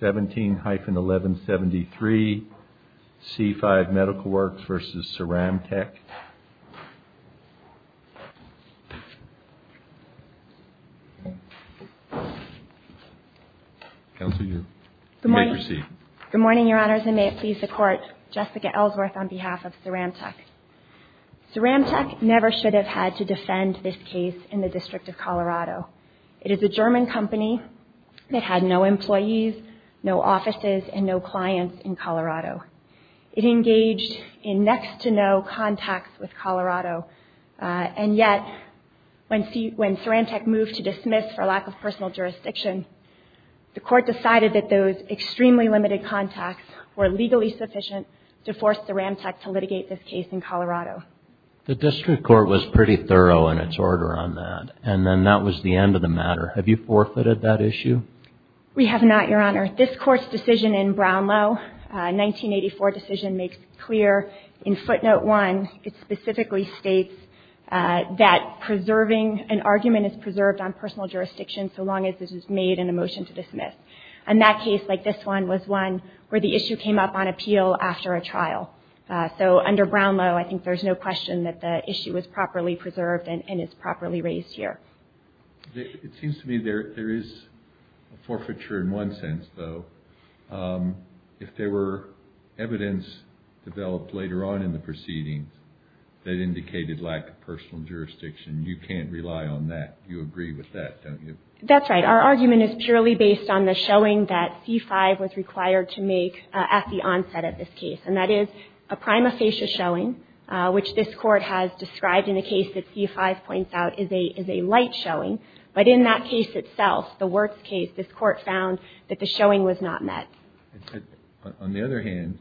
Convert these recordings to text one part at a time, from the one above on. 17-1173 C5 Medical Werks v. Ceramtec Good morning, Your Honors, and may it please the Court, Jessica Ellsworth on behalf of Ceramtec. Ceramtec never should have had to defend this case in the District of Colorado. It is a German company that had no employees, no offices, and no clients in Colorado. It engaged in next-to-no contacts with Colorado, and yet when Ceramtec moved to dismiss for lack of personal jurisdiction, the Court decided that those extremely limited contacts were legally sufficient to force Ceramtec to litigate this case in Colorado. The District Court was pretty thorough in its order on that, and then that was the end of the matter. Have you forfeited that issue? We have not, Your Honor. This Court's decision in Brownlow, a 1984 decision, makes clear in footnote one, it specifically states that preserving an argument is preserved on personal jurisdiction so long as it is made in a motion to dismiss. And that case, like this one, was one where the issue came up on appeal after a trial. So under Brownlow, I think there's no question that the issue is properly preserved and is properly raised here. It seems to me there is a forfeiture in one sense, though. If there were evidence developed later on in the proceedings that indicated lack of personal jurisdiction, you can't rely on that. You agree with that, don't you? That's right. Our argument is purely based on the showing that C-5 was required to make at the onset of this case. And that is a prima facie showing, which this Court has described in a case that C-5 points out is a light showing. But in that case itself, the works case, this Court found that the showing was not met. On the other hand,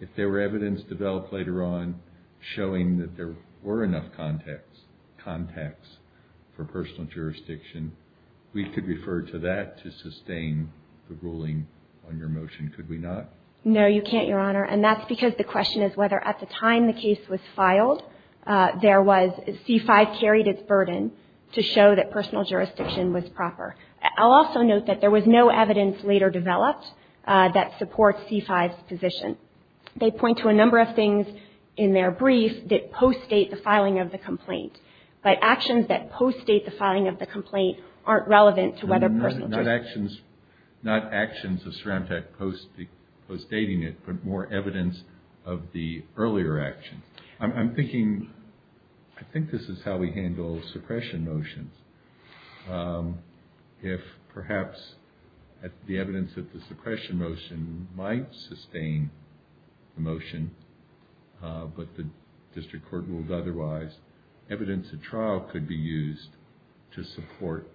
if there were evidence developed later on showing that there were enough contacts for personal jurisdiction, we could refer to that to sustain the ruling on your motion. Could we not? No, you can't, Your Honor. And that's because the question is whether at the time the case was filed, there was – C-5 carried its burden to show that personal jurisdiction was proper. I'll also note that there was no evidence later developed that supports C-5's position. They point to a number of things in their brief that post-state the filing of the complaint. But actions that post-state the filing of the complaint aren't relevant to whether personal jurisdiction – Not actions of SRAMTAC post-stating it, but more evidence of the earlier action. I'm thinking – I think this is how we handle suppression motions. If perhaps the evidence that the suppression motion might sustain the motion, but the district court ruled otherwise, evidence at trial could be used to support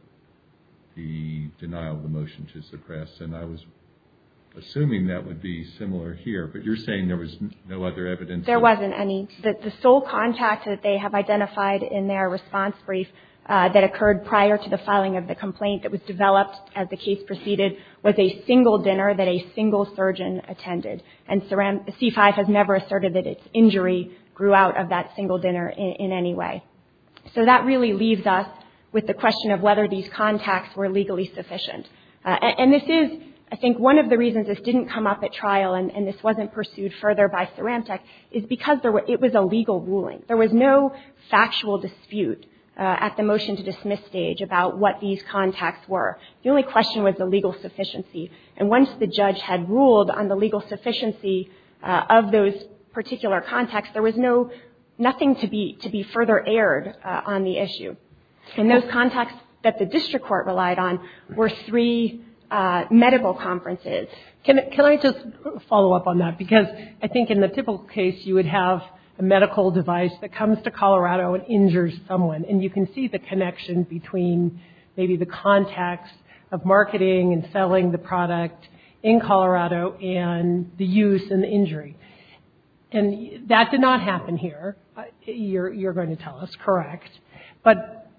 the denial of the motion to suppress. And I was assuming that would be similar here, but you're saying there was no other evidence? There wasn't any. The sole contact that they have identified in their response brief that occurred prior to the filing of the complaint that was developed as the case proceeded was a single dinner that a single surgeon attended. And C-5 has never asserted that its injury grew out of that single dinner in any way. So that really leaves us with the question of whether these contacts were legally sufficient. And this is – I think one of the reasons this didn't come up at trial and this wasn't pursued further by SRAMTAC is because it was a legal ruling. There was no factual dispute at the motion-to-dismiss stage about what these contacts were. The only question was the legal sufficiency. And once the judge had ruled on the legal sufficiency of those particular contacts, there was no – nothing to be – to be further aired on the issue. And those contacts that the district court relied on were three medical conferences. Can I just follow up on that? Because I think in the typical case you would have a medical device that comes to Colorado and injures someone. And you can see the connection between maybe the contacts of marketing and selling the product in Colorado and the use and the injury. And that did not happen here, you're going to tell us, correct. But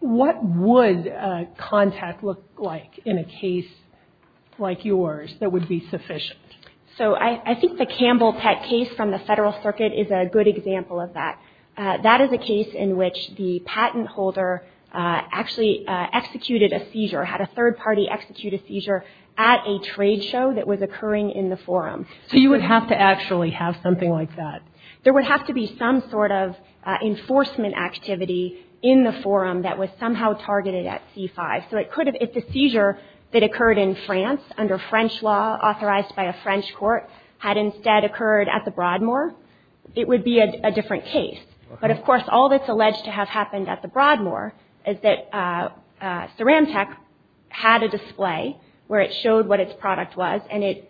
what would contact look like in a case like yours that would be sufficient? So I think the Campbell Pet case from the Federal Circuit is a good example of that. That is a case in which the patent holder actually executed a seizure, had a third party execute a seizure at a trade show that was occurring in the forum. So you would have to actually have something like that? There would have to be some sort of enforcement activity in the forum that was somehow targeted at C5. So it could have – if the seizure that occurred in France under French law, authorized by a French court, had instead occurred at the Broadmoor, it would be a different case. But of course all that's alleged to have happened at the Broadmoor is that Ceramtech had a display where it showed what its product was and it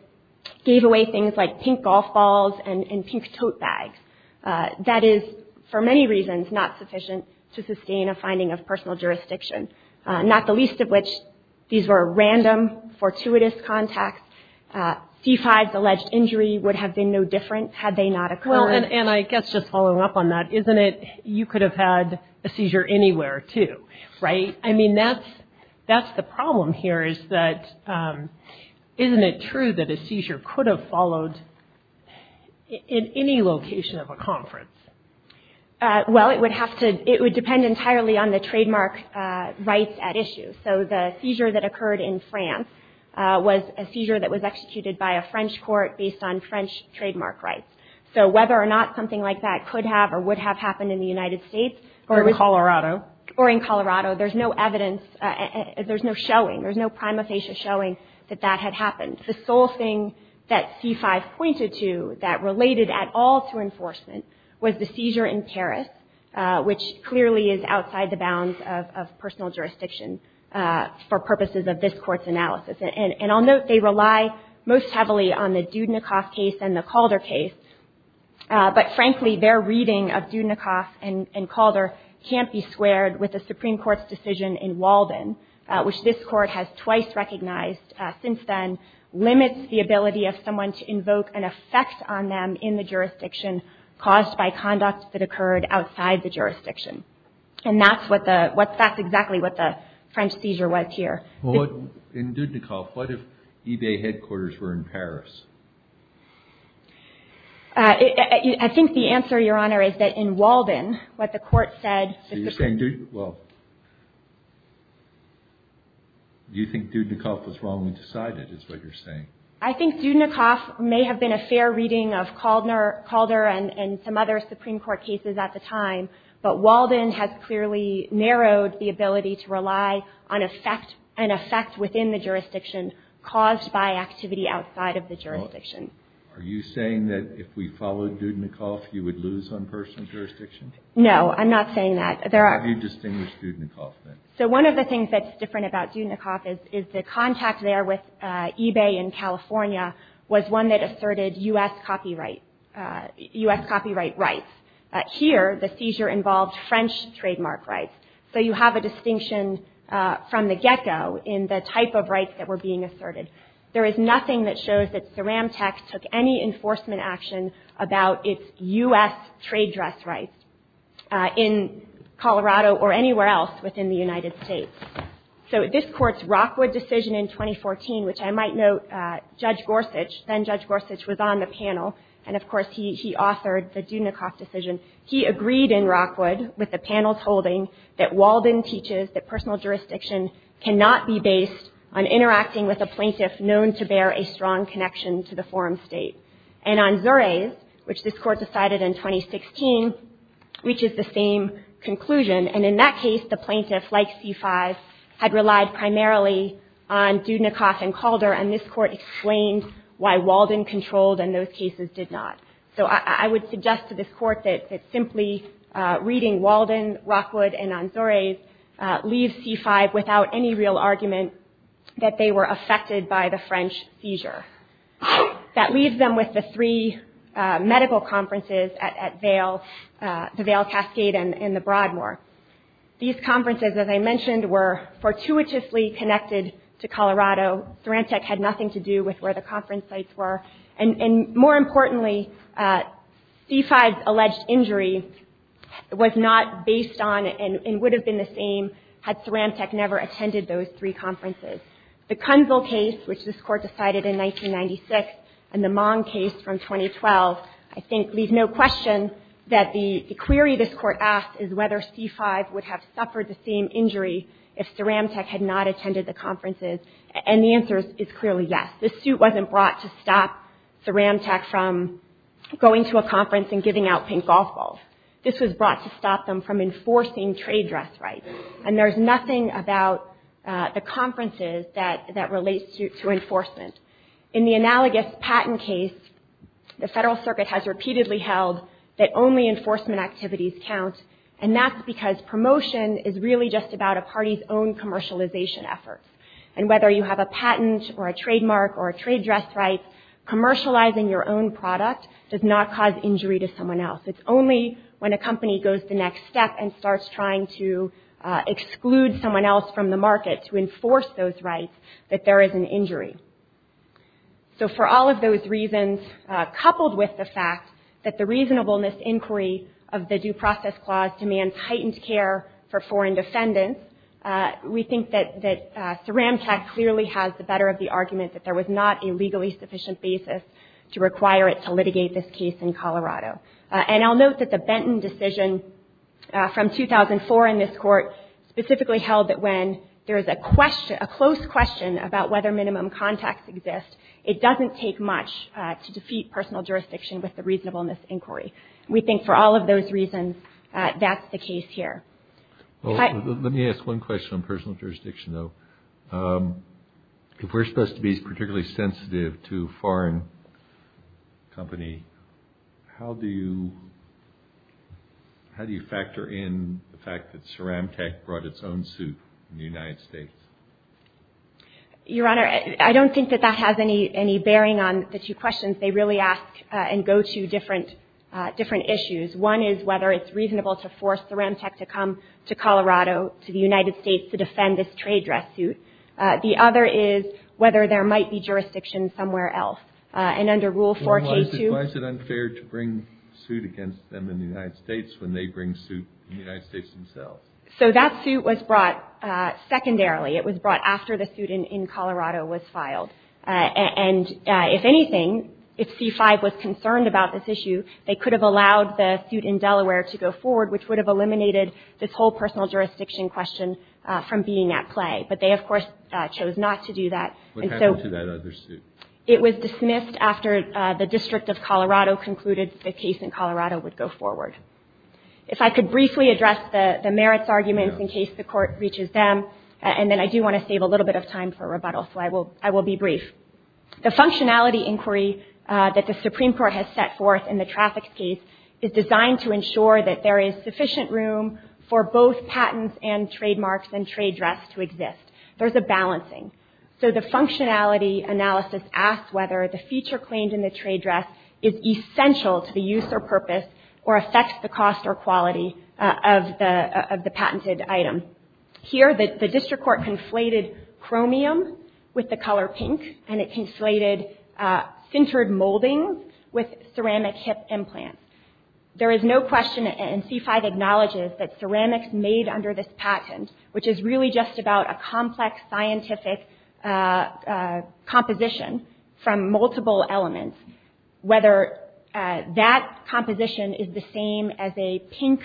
gave away things like pink golf balls and pink tote bags. That is for many reasons not sufficient to sustain a finding of personal jurisdiction. Not the least of which, these were random, fortuitous contacts. C5's alleged injury would have been no different had they not occurred. And I guess just following up on that, you could have had a seizure anywhere too, right? I mean that's the problem here is that isn't it true that a seizure could have followed in any location of a conference? Well, it would have to – it would depend entirely on the trademark rights at issue. So the seizure that occurred in France was a seizure that was executed by a French court based on French trademark rights. So whether or not something like that could have or would have happened in the United States or in Colorado, there's no evidence – there's no showing, there's no prima facie showing that that had happened. The sole thing that C5 pointed to that related at all to enforcement was the seizure in Paris, which clearly is outside the bounds of personal jurisdiction for purposes of this Court's analysis. And I'll note they rely most heavily on the Dudnikoff case and the Calder case. But frankly, their reading of Dudnikoff and Calder can't be squared with the Supreme Court's decision in Walden, which this Court has twice recognized since then limits the ability of someone to invoke an effect on them in the jurisdiction caused by conduct that occurred outside the jurisdiction. And that's what the – that's exactly what the French seizure was here. In Dudnikoff, what if eBay headquarters were in Paris? I think the answer, Your Honor, is that in Walden, what the Court said – You're saying – well, do you think Dudnikoff was wrongly decided is what you're saying? I think Dudnikoff may have been a fair reading of Calder and some other Supreme Court cases at the time, but Walden has clearly narrowed the ability to rely on effect – an effect within the jurisdiction Are you saying that if we followed Dudnikoff, you would lose on personal jurisdiction? No, I'm not saying that. How do you distinguish Dudnikoff, then? So one of the things that's different about Dudnikoff is the contact there with eBay in California was one that asserted U.S. copyright – U.S. copyright rights. Here, the seizure involved French trademark rights. So you have a distinction from the get-go in the type of rights that were being asserted. There is nothing that shows that Ceram-Tex took any enforcement action about its U.S. trade dress rights in Colorado or anywhere else within the United States. So this Court's Rockwood decision in 2014, which I might note Judge Gorsuch – then-Judge Gorsuch was on the panel, and of course, he – he authored the Dudnikoff decision. He agreed in Rockwood with the panel's holding that Walden teaches that personal jurisdiction cannot be based on interacting with a plaintiff known to bear a strong connection to the forum state. And Ansores, which this Court decided in 2016, reaches the same conclusion. And in that case, the plaintiff, like C-5, had relied primarily on Dudnikoff and Calder, and this Court explained why Walden controlled and those cases did not. So I would suggest to this Court that simply reading Walden, Rockwood, and Ansores leaves C-5 without any real argument that they were affected by the French seizure. That leaves them with the three medical conferences at Vail – the Vail Cascade and the Broadmoor. These conferences, as I mentioned, were fortuitously connected to Colorado. Ceram-Tex had nothing to do with where the conference sites were. And more importantly, C-5's alleged injury was not based on and would have been the same had Ceram-Tex never attended those three conferences. The Kunzel case, which this Court decided in 1996, and the Mong case from 2012, I think leave no question that the query this Court asked is whether C-5 would have suffered the same injury if Ceram-Tex had not attended the conferences. And the answer is clearly yes. The suit wasn't brought to stop Ceram-Tex from going to a conference and giving out pink golf balls. This was brought to stop them from enforcing trade dress rights. And there's nothing about the conferences that relates to enforcement. In the analogous patent case, the Federal Circuit has repeatedly held that only enforcement activities count, and that's because promotion is really just about a party's own commercialization efforts. And whether you have a patent or a trademark or a trade dress right, commercializing your own product does not cause injury to someone else. It's only when a company goes the next step and starts trying to exclude someone else from the market to enforce those rights that there is an injury. So for all of those reasons, coupled with the fact that the reasonableness inquiry of the Due Process Clause demands heightened care for foreign defendants, we think that Ceram-Tex clearly has the better of the argument that there was not a legally sufficient basis to require it to litigate this case in Colorado. And I'll note that the Benton decision from 2004 in this Court specifically held that when there is a close question about whether minimum contacts exist, it doesn't take much to defeat personal jurisdiction with the reasonableness inquiry. We think for all of those reasons that's the case here. Let me ask one question on personal jurisdiction, though. If we're supposed to be particularly sensitive to a foreign company, how do you factor in the fact that Ceram-Tex brought its own suit in the United States? Your Honor, I don't think that that has any bearing on the two questions. They really ask and go to different issues. One is whether it's reasonable to force Ceram-Tex to come to Colorado, to the United States, to defend this trade dress suit. The other is whether there might be jurisdiction somewhere else. And under Rule 4K2- Why is it unfair to bring suit against them in the United States when they bring suit in the United States themselves? So that suit was brought secondarily. It was brought after the suit in Colorado was filed. And if anything, if C-5 was concerned about this issue, they could have allowed the suit in Delaware to go forward, which would have eliminated this whole personal jurisdiction question from being at play. But they, of course, chose not to do that. And so- What happened to that other suit? It was dismissed after the District of Colorado concluded the case in Colorado would go forward. If I could briefly address the merits arguments in case the Court reaches them, and then I do want to save a little bit of time for rebuttal, so I will be brief. The functionality inquiry that the Supreme Court has set forth in the traffics case is designed to ensure that there is sufficient room for both patents and trademarks and trade dress to exist. There's a balancing. So the functionality analysis asks whether the feature claimed in the trade dress is essential to the use or purpose or affects the cost or quality of the patented item. Here, the District Court conflated chromium with the color pink, and it conflated sintered moldings with ceramic hip implants. There is no question, and C-5 acknowledges that ceramics made under this patent, which is really just about a complex scientific composition from multiple elements, whether that composition is the same as a pink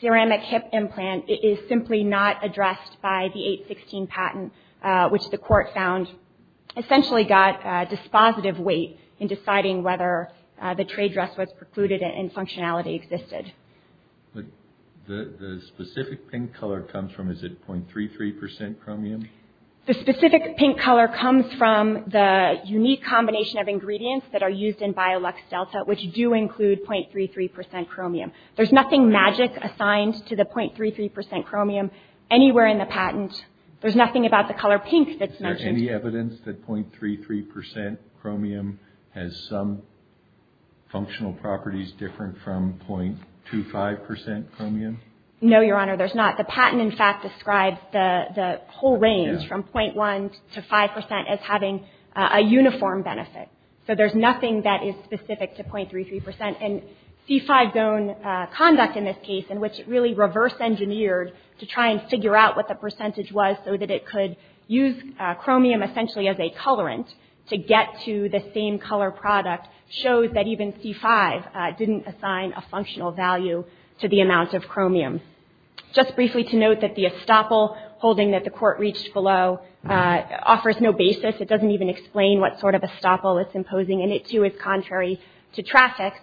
ceramic hip implant is simply not addressed by the 816 patent, which the Court found essentially got dispositive weight in deciding whether the trade dress was precluded and functionality existed. The specific pink color comes from, is it .33 percent chromium? The specific pink color comes from the unique combination of ingredients that are used in BioLux Delta, which do include .33 percent chromium. There's nothing magic assigned to the .33 percent chromium anywhere in the patent. There's nothing about the color pink that's mentioned. Is there any evidence that .33 percent chromium has some functional properties different from .25 percent chromium? No, Your Honor, there's not. The patent, in fact, describes the whole range from .1 to 5 percent as having a uniform benefit. So there's nothing that is specific to .33 percent. And C-5 zone conduct in this case, in which it really reverse engineered to try and figure out what the percentage was so that it could use chromium essentially as a colorant to get to the same color product, shows that even C-5 didn't assign a functional value to the amount of chromium. Just briefly to note that the estoppel holding that the Court reached below offers no basis. It doesn't even explain what sort of estoppel it's imposing, and it too is contrary to traffics,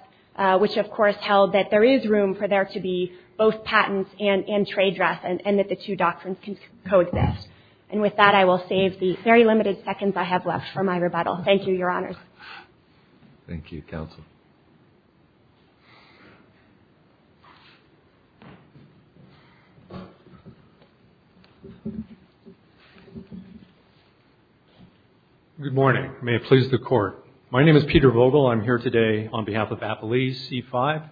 which of course held that there is room for there to be both patents and trade drafts and that the two doctrines can coexist. And with that, I will save the very limited seconds I have left for my rebuttal. Thank you, Your Honors. Thank you, Counsel. Good morning. May it please the Court. My name is Peter Vogel. I'm here today on behalf of Appalachia C-5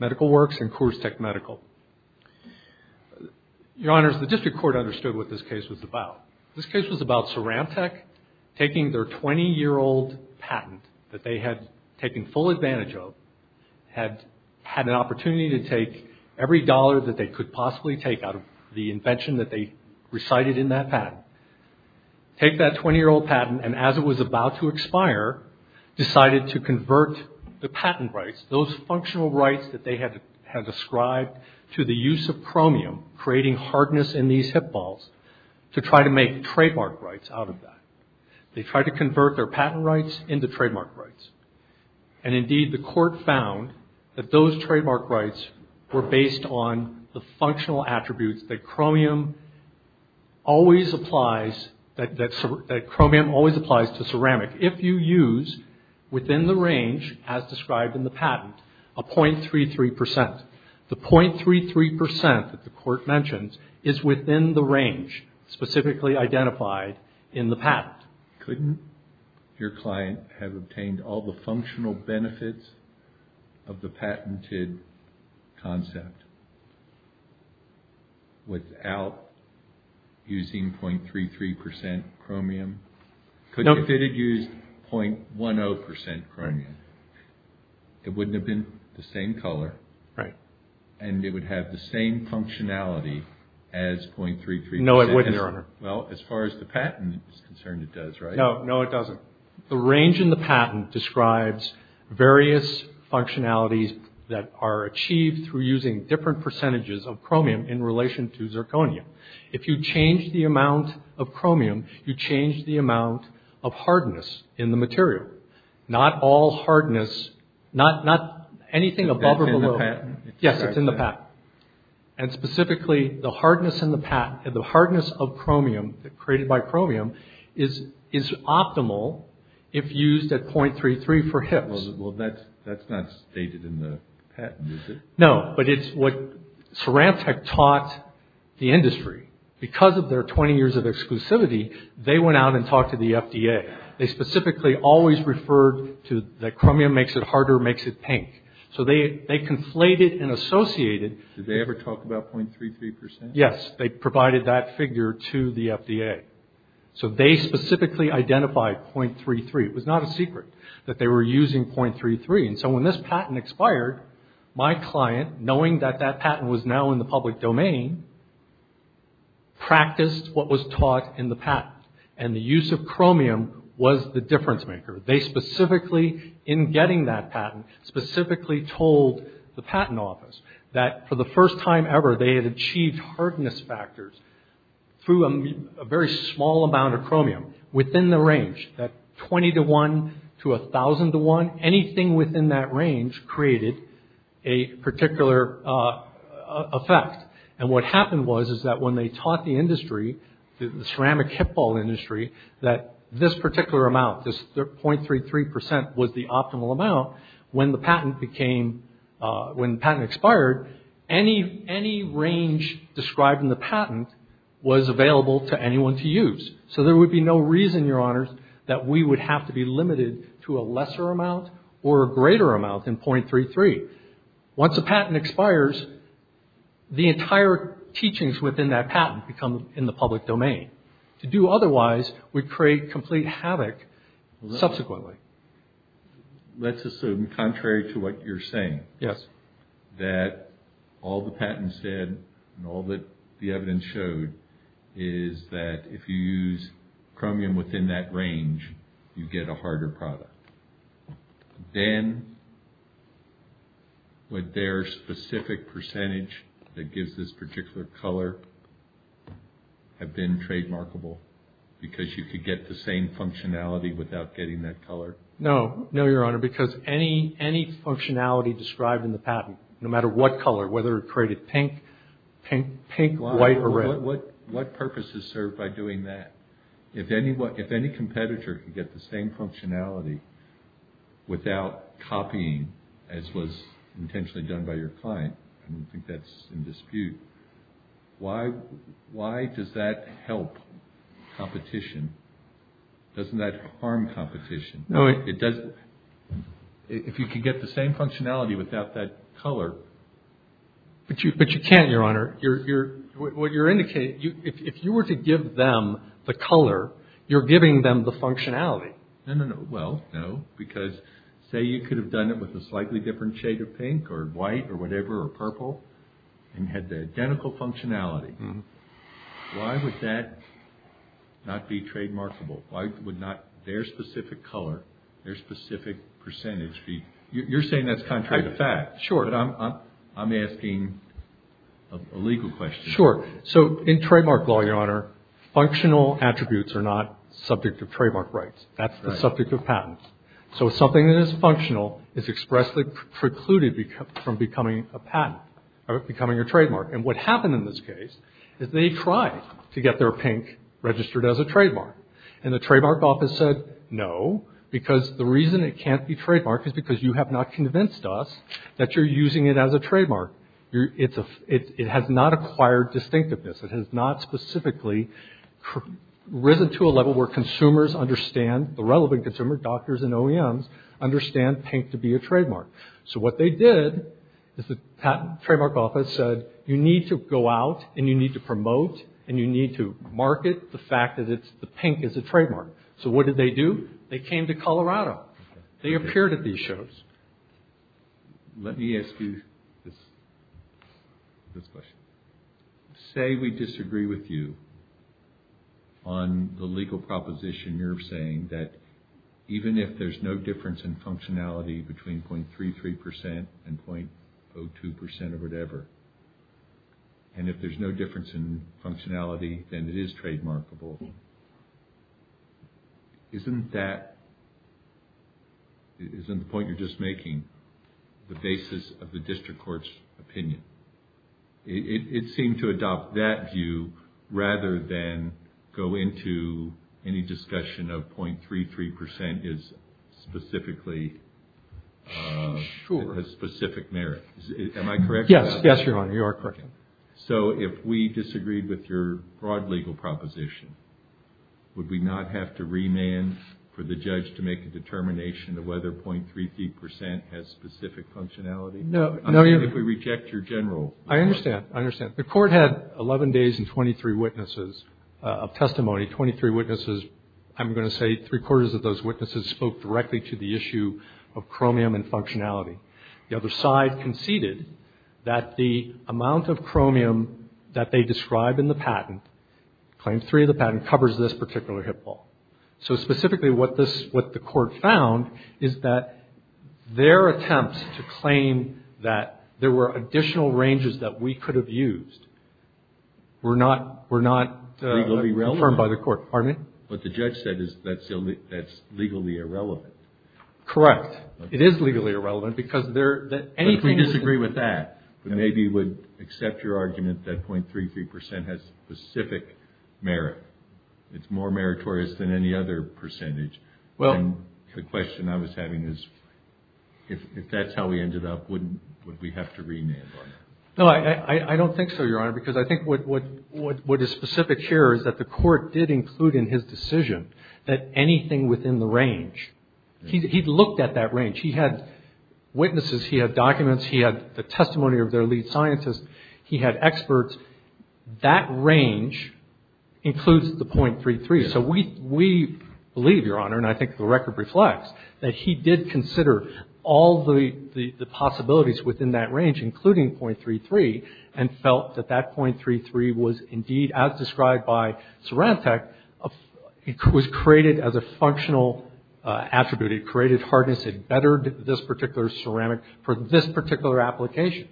Medical Works and CoorsTek Medical. Your Honors, the District Court understood what this case was about. This case was about CeramTek taking their 20-year-old patent that they had taken full advantage of, had an opportunity to take every dollar that they could possibly take out of the invention that they recited in that patent, take that 20-year-old patent, and as it was about to expire, decided to convert the patent rights, those functional rights that they had ascribed to the use of chromium, creating hardness in these hip balls, to try to make trademark rights out of that. They tried to convert their patent rights into trademark rights. And indeed, the Court found that those trademark rights were based on the functional attributes that chromium always applies, that chromium always applies to ceramic. If you use within the range as described in the patent, a .33 percent, the .33 percent that the Court mentions is within the range specifically identified in the patent. Couldn't your client have obtained all the functional benefits of the patented concept without using .33 percent chromium? Could they have used .10 percent chromium? It wouldn't have been the same color. Right. And it would have the same functionality as .33 percent? No, it wouldn't, Your Honor. Well, as far as the patent is concerned, it does, right? No, it doesn't. The range in the patent describes various functionalities that are achieved through using different percentages of chromium in relation to zirconium. If you change the amount of chromium, you change the amount of hardness in the material. Not all hardness, not anything above or below. It's in the patent? Yes, it's in the patent. And specifically, the hardness in the patent, the hardness of chromium created by chromium is optimal if used at .33 for hips. Well, that's not stated in the patent, is it? No, but it's what Ceramtech taught the industry. Because of their 20 years of exclusivity, they went out and talked to the FDA. They specifically always referred to that chromium makes it harder, makes it pink. So they conflated and associated. Did they ever talk about .33 percent? Yes. They provided that figure to the FDA. So they specifically identified .33. It was not a secret that they were using .33. And so when this patent expired, my client, knowing that that patent was now in the public domain, practiced what was taught in the patent. And the use of chromium was the difference maker. They specifically, in getting that patent, specifically told the patent office that for the first time ever, they had achieved hardness factors through a very small amount of chromium within the range. That 20 to 1 to 1,000 to 1, anything within that range created a particular effect. And what happened was is that when they taught the industry, the ceramic hip ball industry, that this particular amount, this .33 percent was the optimal amount, when the patent expired, any range described in the patent was available to anyone to use. So there would be no reason, Your Honors, that we would have to be limited to a lesser amount or a greater amount than .33. Once a patent expires, the entire teachings within that patent become in the public domain. To do otherwise would create complete havoc subsequently. Let's assume, contrary to what you're saying, that all the patents said and all that the evidence showed is that if you use chromium within that range, you get a harder product. Then would their specific percentage that gives this particular color have been trademarkable? Because you could get the same functionality without getting that color? No, Your Honor, because any functionality described in the patent, no matter what color, whether it created pink, white, or red. What purpose is served by doing that? If any competitor could get the same functionality without copying, as was intentionally done by your client, I don't think that's in dispute. Why does that help competition? Doesn't that harm competition? No, it doesn't. If you could get the same functionality without that color. But you can't, Your Honor. What you're indicating, if you were to give them the color, you're giving them the functionality. No, no, no. Well, no, because say you could have done it with a slightly different shade of pink or white or whatever or purple and had the identical functionality. Why would that not be trademarkable? Why would not their specific color, their specific percentage be? You're saying that's contrary to fact. Sure. But I'm asking a legal question. Sure. So in trademark law, Your Honor, functional attributes are not subject of trademark rights. That's the subject of patents. So something that is functional is expressly precluded from becoming a patent or becoming a trademark. And what happened in this case is they tried to get their pink registered as a trademark. And the trademark office said, no, because the reason it can't be trademarked is because you have not convinced us that you're using it as a trademark. It has not acquired distinctiveness. It has not specifically risen to a level where consumers understand, the relevant consumer, doctors and OEMs, understand pink to be a trademark. So what they did is the trademark office said, you need to go out and you need to promote and you need to market the fact that the pink is a trademark. So what did they do? They came to Colorado. They appeared at these shows. Let me ask you this question. Say we disagree with you on the legal proposition you're saying that even if there's no difference in functionality between .33% and .02% or whatever, and if there's no difference in functionality, then it is trademarkable. Isn't that, isn't the point you're just making, the basis of the district court's opinion? It seemed to adopt that view rather than go into any discussion of .33% is specifically a specific merit. Am I correct? Yes. Yes, Your Honor, you are correct. So if we disagreed with your broad legal proposition, would we not have to remand for the judge to make a determination of whether .33% has specific functionality? No. If we reject your general. I understand. I understand. The court had 11 days and 23 witnesses of testimony, 23 witnesses. I'm going to say three-quarters of those witnesses spoke directly to the issue of chromium and functionality. The other side conceded that the amount of chromium that they describe in the patent, claim three of the patent, covers this particular hip ball. So specifically what the court found is that their attempts to claim that there were additional ranges that we could have used were not. Legally relevant. Affirmed by the court. Pardon me? What the judge said is that's legally irrelevant. Correct. It is legally irrelevant because there. But if we disagree with that. But maybe you would accept your argument that .33% has specific merit. It's more meritorious than any other percentage. Well. The question I was having is if that's how we ended up, would we have to remand? No, I don't think so, Your Honor, because I think what is specific here is that the court did include in his decision that anything within the range. He looked at that range. He had witnesses. He had documents. He had the testimony of their lead scientist. He had experts. That range includes the .33. So we believe, Your Honor, and I think the record reflects, that he did consider all the possibilities within that range, including .33, and felt that that .33 was indeed, as described by Cerantech, was created as a functional attribute. It created hardness. It bettered this particular ceramic for this particular application.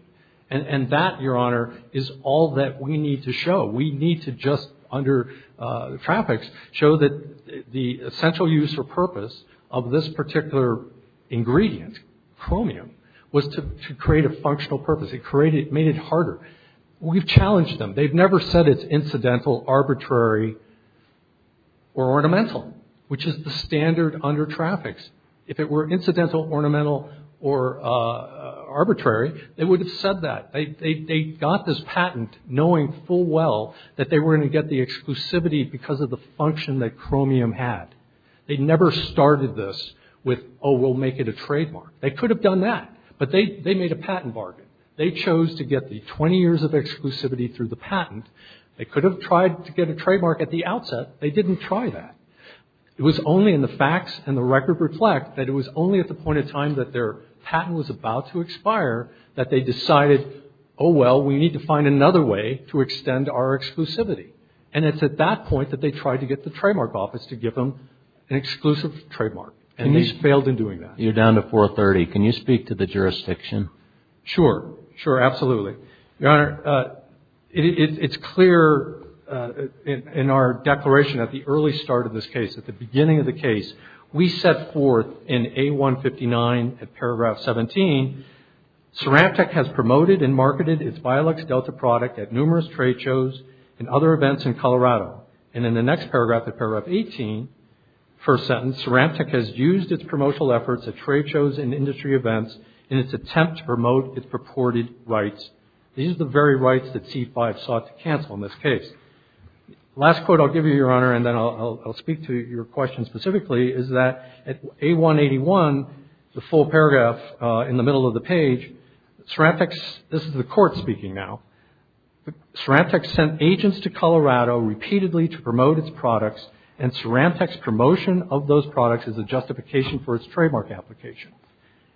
And that, Your Honor, is all that we need to show. We need to just, under traffics, show that the essential use or purpose of this particular ingredient, chromium, was to create a functional purpose. It made it harder. We've challenged them. They've never said it's incidental, arbitrary, or ornamental, which is the standard under traffics. If it were incidental, ornamental, or arbitrary, they would have said that. They got this patent knowing full well that they were going to get the exclusivity because of the function that chromium had. They never started this with, oh, we'll make it a trademark. They could have done that, but they made a patent bargain. They chose to get the 20 years of exclusivity through the patent. They could have tried to get a trademark at the outset. They didn't try that. It was only in the facts and the record reflect that it was only at the point in time that their patent was about to expire that they decided, oh, well, we need to find another way to extend our exclusivity. And it's at that point that they tried to get the trademark office to give them an exclusive trademark. And they failed in doing that. You're down to 430. Can you speak to the jurisdiction? Sure. Sure, absolutely. Your Honor, it's clear in our declaration at the early start of this case, at the beginning of the case, we set forth in A-159 at paragraph 17, Ceramtech has promoted and marketed its Violex Delta product at numerous trade shows and other events in Colorado. And in the next paragraph, at paragraph 18, first sentence, Ceramtech has used its promotional efforts at trade shows and industry events in its attempt to promote its purported rights. These are the very rights that C-5 sought to cancel in this case. Last quote I'll give you, Your Honor, and then I'll speak to your question specifically, is that at A-181, the full paragraph in the middle of the page, Ceramtech's, this is the court speaking now, Ceramtech sent agents to Colorado repeatedly to promote its products, and Ceramtech's promotion of those products is a justification for its trademark application.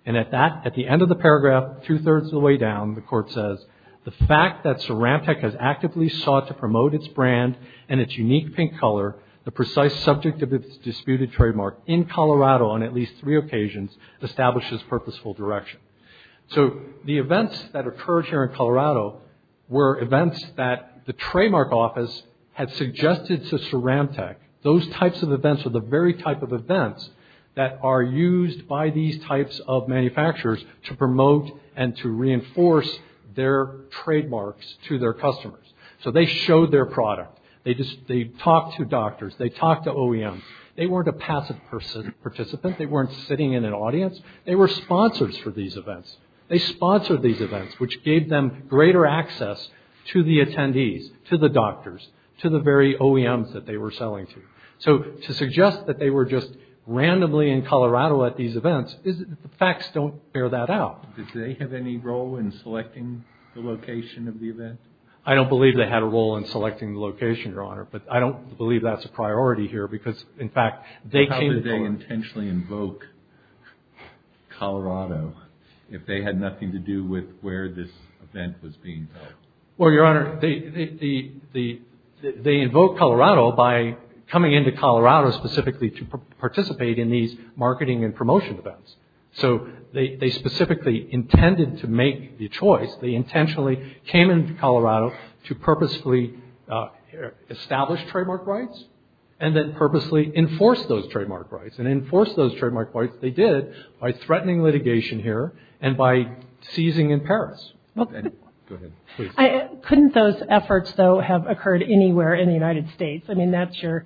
And at that, at the end of the paragraph, two-thirds of the way down, the court says, the fact that Ceramtech has actively sought to promote its brand and its unique pink color, the precise subject of its disputed trademark in Colorado on at least three occasions, establishes purposeful direction. So the events that occurred here in Colorado were events that the trademark office had suggested to Ceramtech. Those types of events are the very type of events that are used by these types of manufacturers to promote and to reinforce their trademarks to their customers. So they showed their product. They talked to doctors. They talked to OEMs. They weren't a passive participant. They weren't sitting in an audience. They were sponsors for these events. They sponsored these events, which gave them greater access to the attendees, to the doctors, to the very OEMs that they were selling to. So to suggest that they were just randomly in Colorado at these events, the facts don't bear that out. Did they have any role in selecting the location of the event? I don't believe they had a role in selecting the location, Your Honor, but I don't believe that's a priority here because, in fact, they came to the court. They invoked Colorado if they had nothing to do with where this event was being held. Well, Your Honor, they invoked Colorado by coming into Colorado specifically to participate in these marketing and promotion events. So they specifically intended to make the choice. They intentionally came into Colorado to purposely establish trademark rights and then purposely enforce those trademark rights and enforce those trademark rights they did by threatening litigation here and by seizing in Paris. Couldn't those efforts, though, have occurred anywhere in the United States? I mean, that's your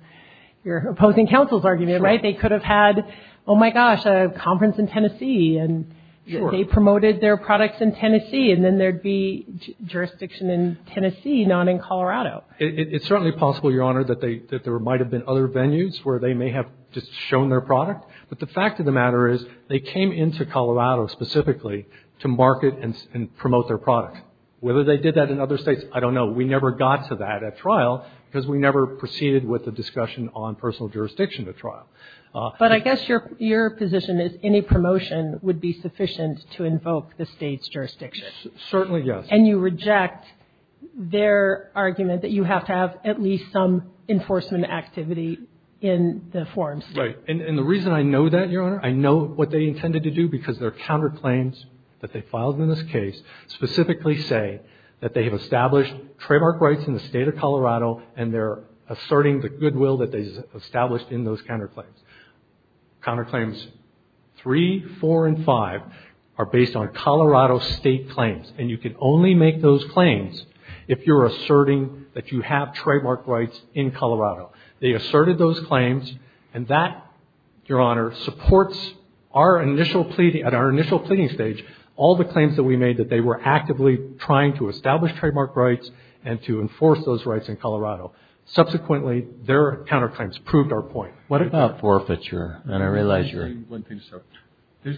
opposing counsel's argument, right? They could have had, oh, my gosh, a conference in Tennessee, and they promoted their products in Tennessee, and then there'd be jurisdiction in Tennessee, not in Colorado. It's certainly possible, Your Honor, that there might have been other venues where they may have just shown their product, but the fact of the matter is they came into Colorado specifically to market and promote their product. Whether they did that in other states, I don't know. We never got to that at trial because we never proceeded with the discussion on personal jurisdiction at trial. But I guess your position is any promotion would be sufficient to invoke the State's jurisdiction. Certainly, yes. And you reject their argument that you have to have at least some enforcement activity in the forum state. Right. And the reason I know that, Your Honor, I know what they intended to do because their counterclaims that they filed in this case specifically say that they have established trademark rights in the State of Colorado, and they're asserting the goodwill that they established in those counterclaims. Counterclaims 3, 4, and 5 are based on Colorado State claims, and you can only make those claims if you're asserting that you have trademark rights in Colorado. They asserted those claims, and that, Your Honor, supports our initial pleading at our initial pleading stage, all the claims that we made that they were actively trying to establish trademark rights and to enforce those rights in Colorado. Subsequently, their counterclaims proved our point. What about forfeiture? There's going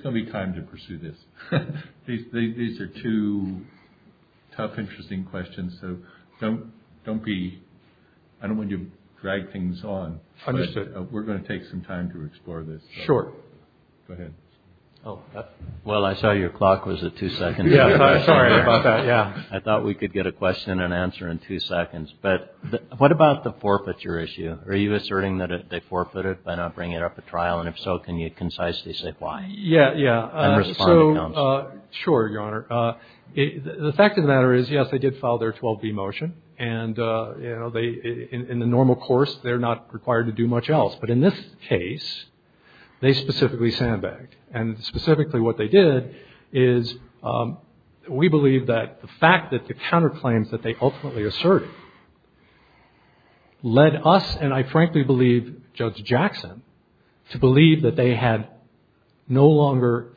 to be time to pursue this. These are two tough, interesting questions, so don't be – I don't want you to drag things on. Understood. We're going to take some time to explore this. Sure. Go ahead. Well, I saw your clock was at two seconds. Sorry about that, yeah. I thought we could get a question and answer in two seconds. But what about the forfeiture issue? Are you asserting that they forfeited by not bringing it up at trial? And if so, can you concisely say why? Yeah, yeah. And respond to counsel. Sure, Your Honor. The fact of the matter is, yes, they did file their 12B motion. And, you know, they – in the normal course, they're not required to do much else. But in this case, they specifically sandbagged. And specifically what they did is we believe that the fact that the counterclaims that they ultimately asserted led us, and I frankly believe Judge Jackson, to believe that they had no longer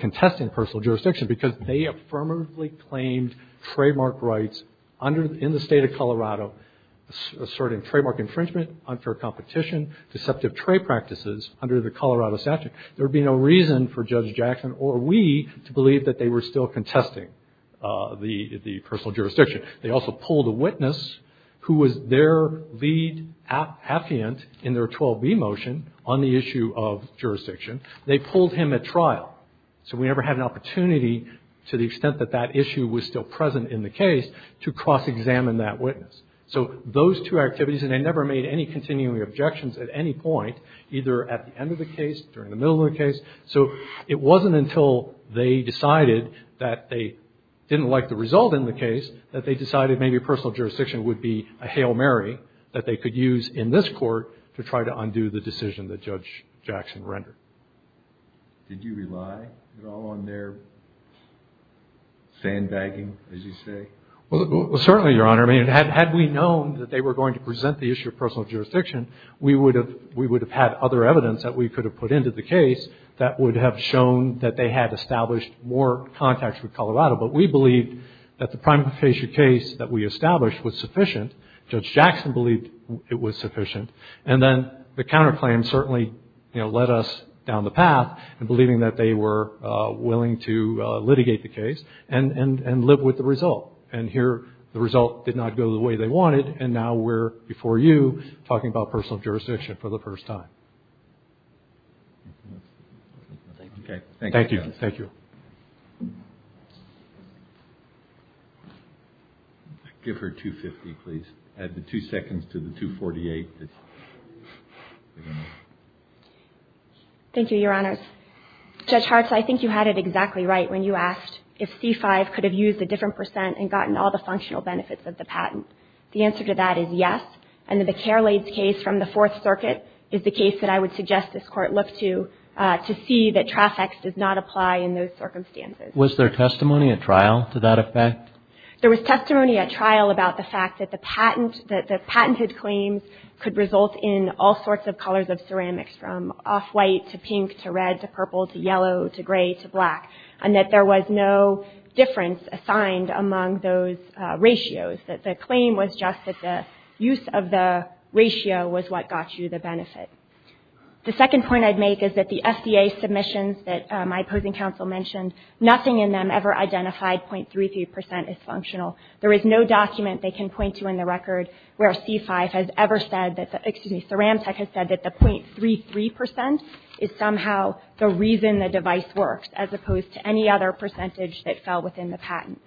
contesting personal jurisdiction because they affirmatively claimed trademark rights in the state of Colorado, asserting trademark infringement, unfair competition, deceptive trade practices under the Colorado statute. There would be no reason for Judge Jackson or we to believe that they were still contesting the personal jurisdiction. They also pulled a witness who was their lead affiant in their 12B motion on the issue of jurisdiction. They pulled him at trial. So we never had an opportunity, to the extent that that issue was still present in the case, to cross-examine that witness. So those two activities – and they never made any continuing objections at any point, either at the end of the case, during the middle of the case. So it wasn't until they decided that they didn't like the result in the case that they decided maybe personal jurisdiction would be a Hail Mary that they could use in this court to try to undo the decision that Judge Jackson rendered. Did you rely at all on their sandbagging, as you say? Well, certainly, Your Honor. I mean, had we known that they were going to present the issue of personal jurisdiction, we would have had other evidence that we could have put into the case that would have shown that they had established more contacts with Colorado. But we believed that the prime facie case that we established was sufficient. Judge Jackson believed it was sufficient. And then the counterclaim certainly, you know, led us down the path in believing that they were willing to litigate the case and live with the result. And here, the result did not go the way they wanted. And now we're, before you, talking about personal jurisdiction for the first time. Thank you. Thank you. Thank you. Give her $250,000, please. Add the two seconds to the $248,000. Thank you, Your Honor. Judge Hartz, I think you had it exactly right when you asked if C-5 could have used a different percent and gotten all the functional benefits of the patent. The answer to that is yes. And the Bacare-Lades case from the Fourth Circuit is the case that I would suggest this Court look to to see that Traf-Ex does not apply in those circumstances. Was there testimony at trial to that effect? There was testimony at trial about the fact that the patent, that the patented claims could result in all sorts of colors of ceramics, from off-white to pink to red to purple to yellow to gray to black, and that there was no difference assigned among those ratios, that the claim was just that the use of the ratio was what got you the benefit. The second point I'd make is that the FDA submissions that my opposing counsel mentioned, nothing in them ever identified .33 percent as functional. There is no document they can point to in the record where C-5 has ever said that the – excuse me, Ceram Tech has said that the .33 percent is somehow the reason the device works, as opposed to any other percentage that fell within the patent.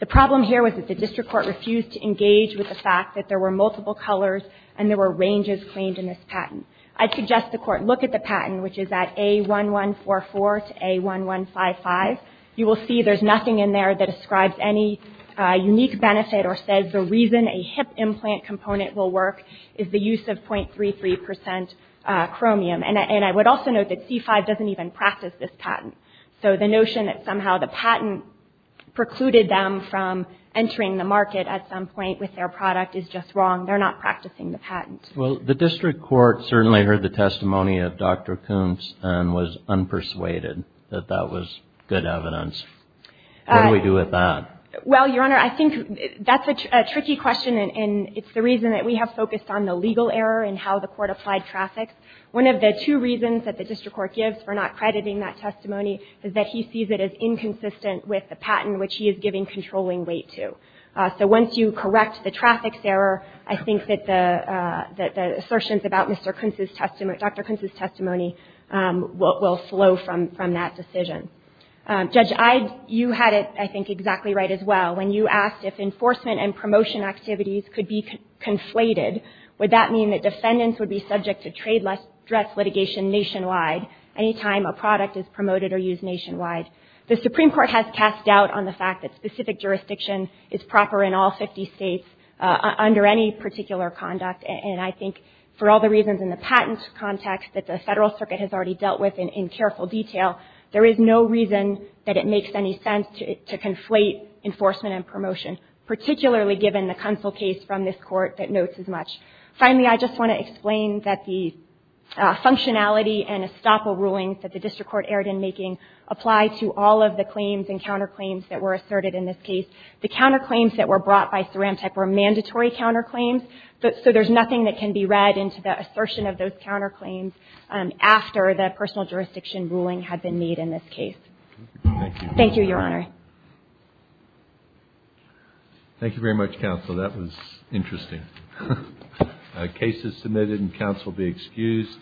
The problem here was that the district court refused to engage with the fact that there were multiple colors and there were ranges claimed in this patent. I'd suggest the Court look at the patent, which is at A1144 to A1155. You will see there's nothing in there that describes any unique benefit or says the reason a hip implant component will work is the use of .33 percent chromium. And I would also note that C-5 doesn't even practice this patent. So the notion that somehow the patent precluded them from entering the market at some point with their product is just wrong. They're not practicing the patent. Well, the district court certainly heard the testimony of Dr. Koontz and was unpersuaded that that was good evidence. What do we do with that? Well, Your Honor, I think that's a tricky question, and it's the reason that we have focused on the legal error and how the court applied traffic. One of the two reasons that the district court gives for not crediting that testimony is that he sees it as inconsistent with the patent, which he is giving controlling weight to. So once you correct the traffic error, I think that the assertions about Mr. Koontz's testimony, Dr. Koontz's testimony, will flow from that decision. Judge, you had it, I think, exactly right as well. When you asked if enforcement and promotion activities could be conflated, would that mean that defendants would be subject to trade dress litigation nationwide any time a product is promoted or used nationwide? The Supreme Court has cast doubt on the fact that specific jurisdiction is proper in all 50 states under any particular conduct, and I think for all the reasons in the patent context that the Federal Circuit has already dealt with in careful detail, there is no reason that it makes any sense to conflate enforcement and promotion, particularly given the counsel case from this Court that notes as much. Finally, I just want to explain that the functionality and estoppel rulings that the district court erred in making apply to all of the claims and counterclaims that were asserted in this case. The counterclaims that were brought by Ceram Tech were mandatory counterclaims, so there's nothing that can be read into the assertion of those counterclaims after the personal jurisdiction ruling had been made in this case. Thank you. Thank you, Your Honor. Thank you very much, counsel. That was interesting. Case is submitted and counsel be excused.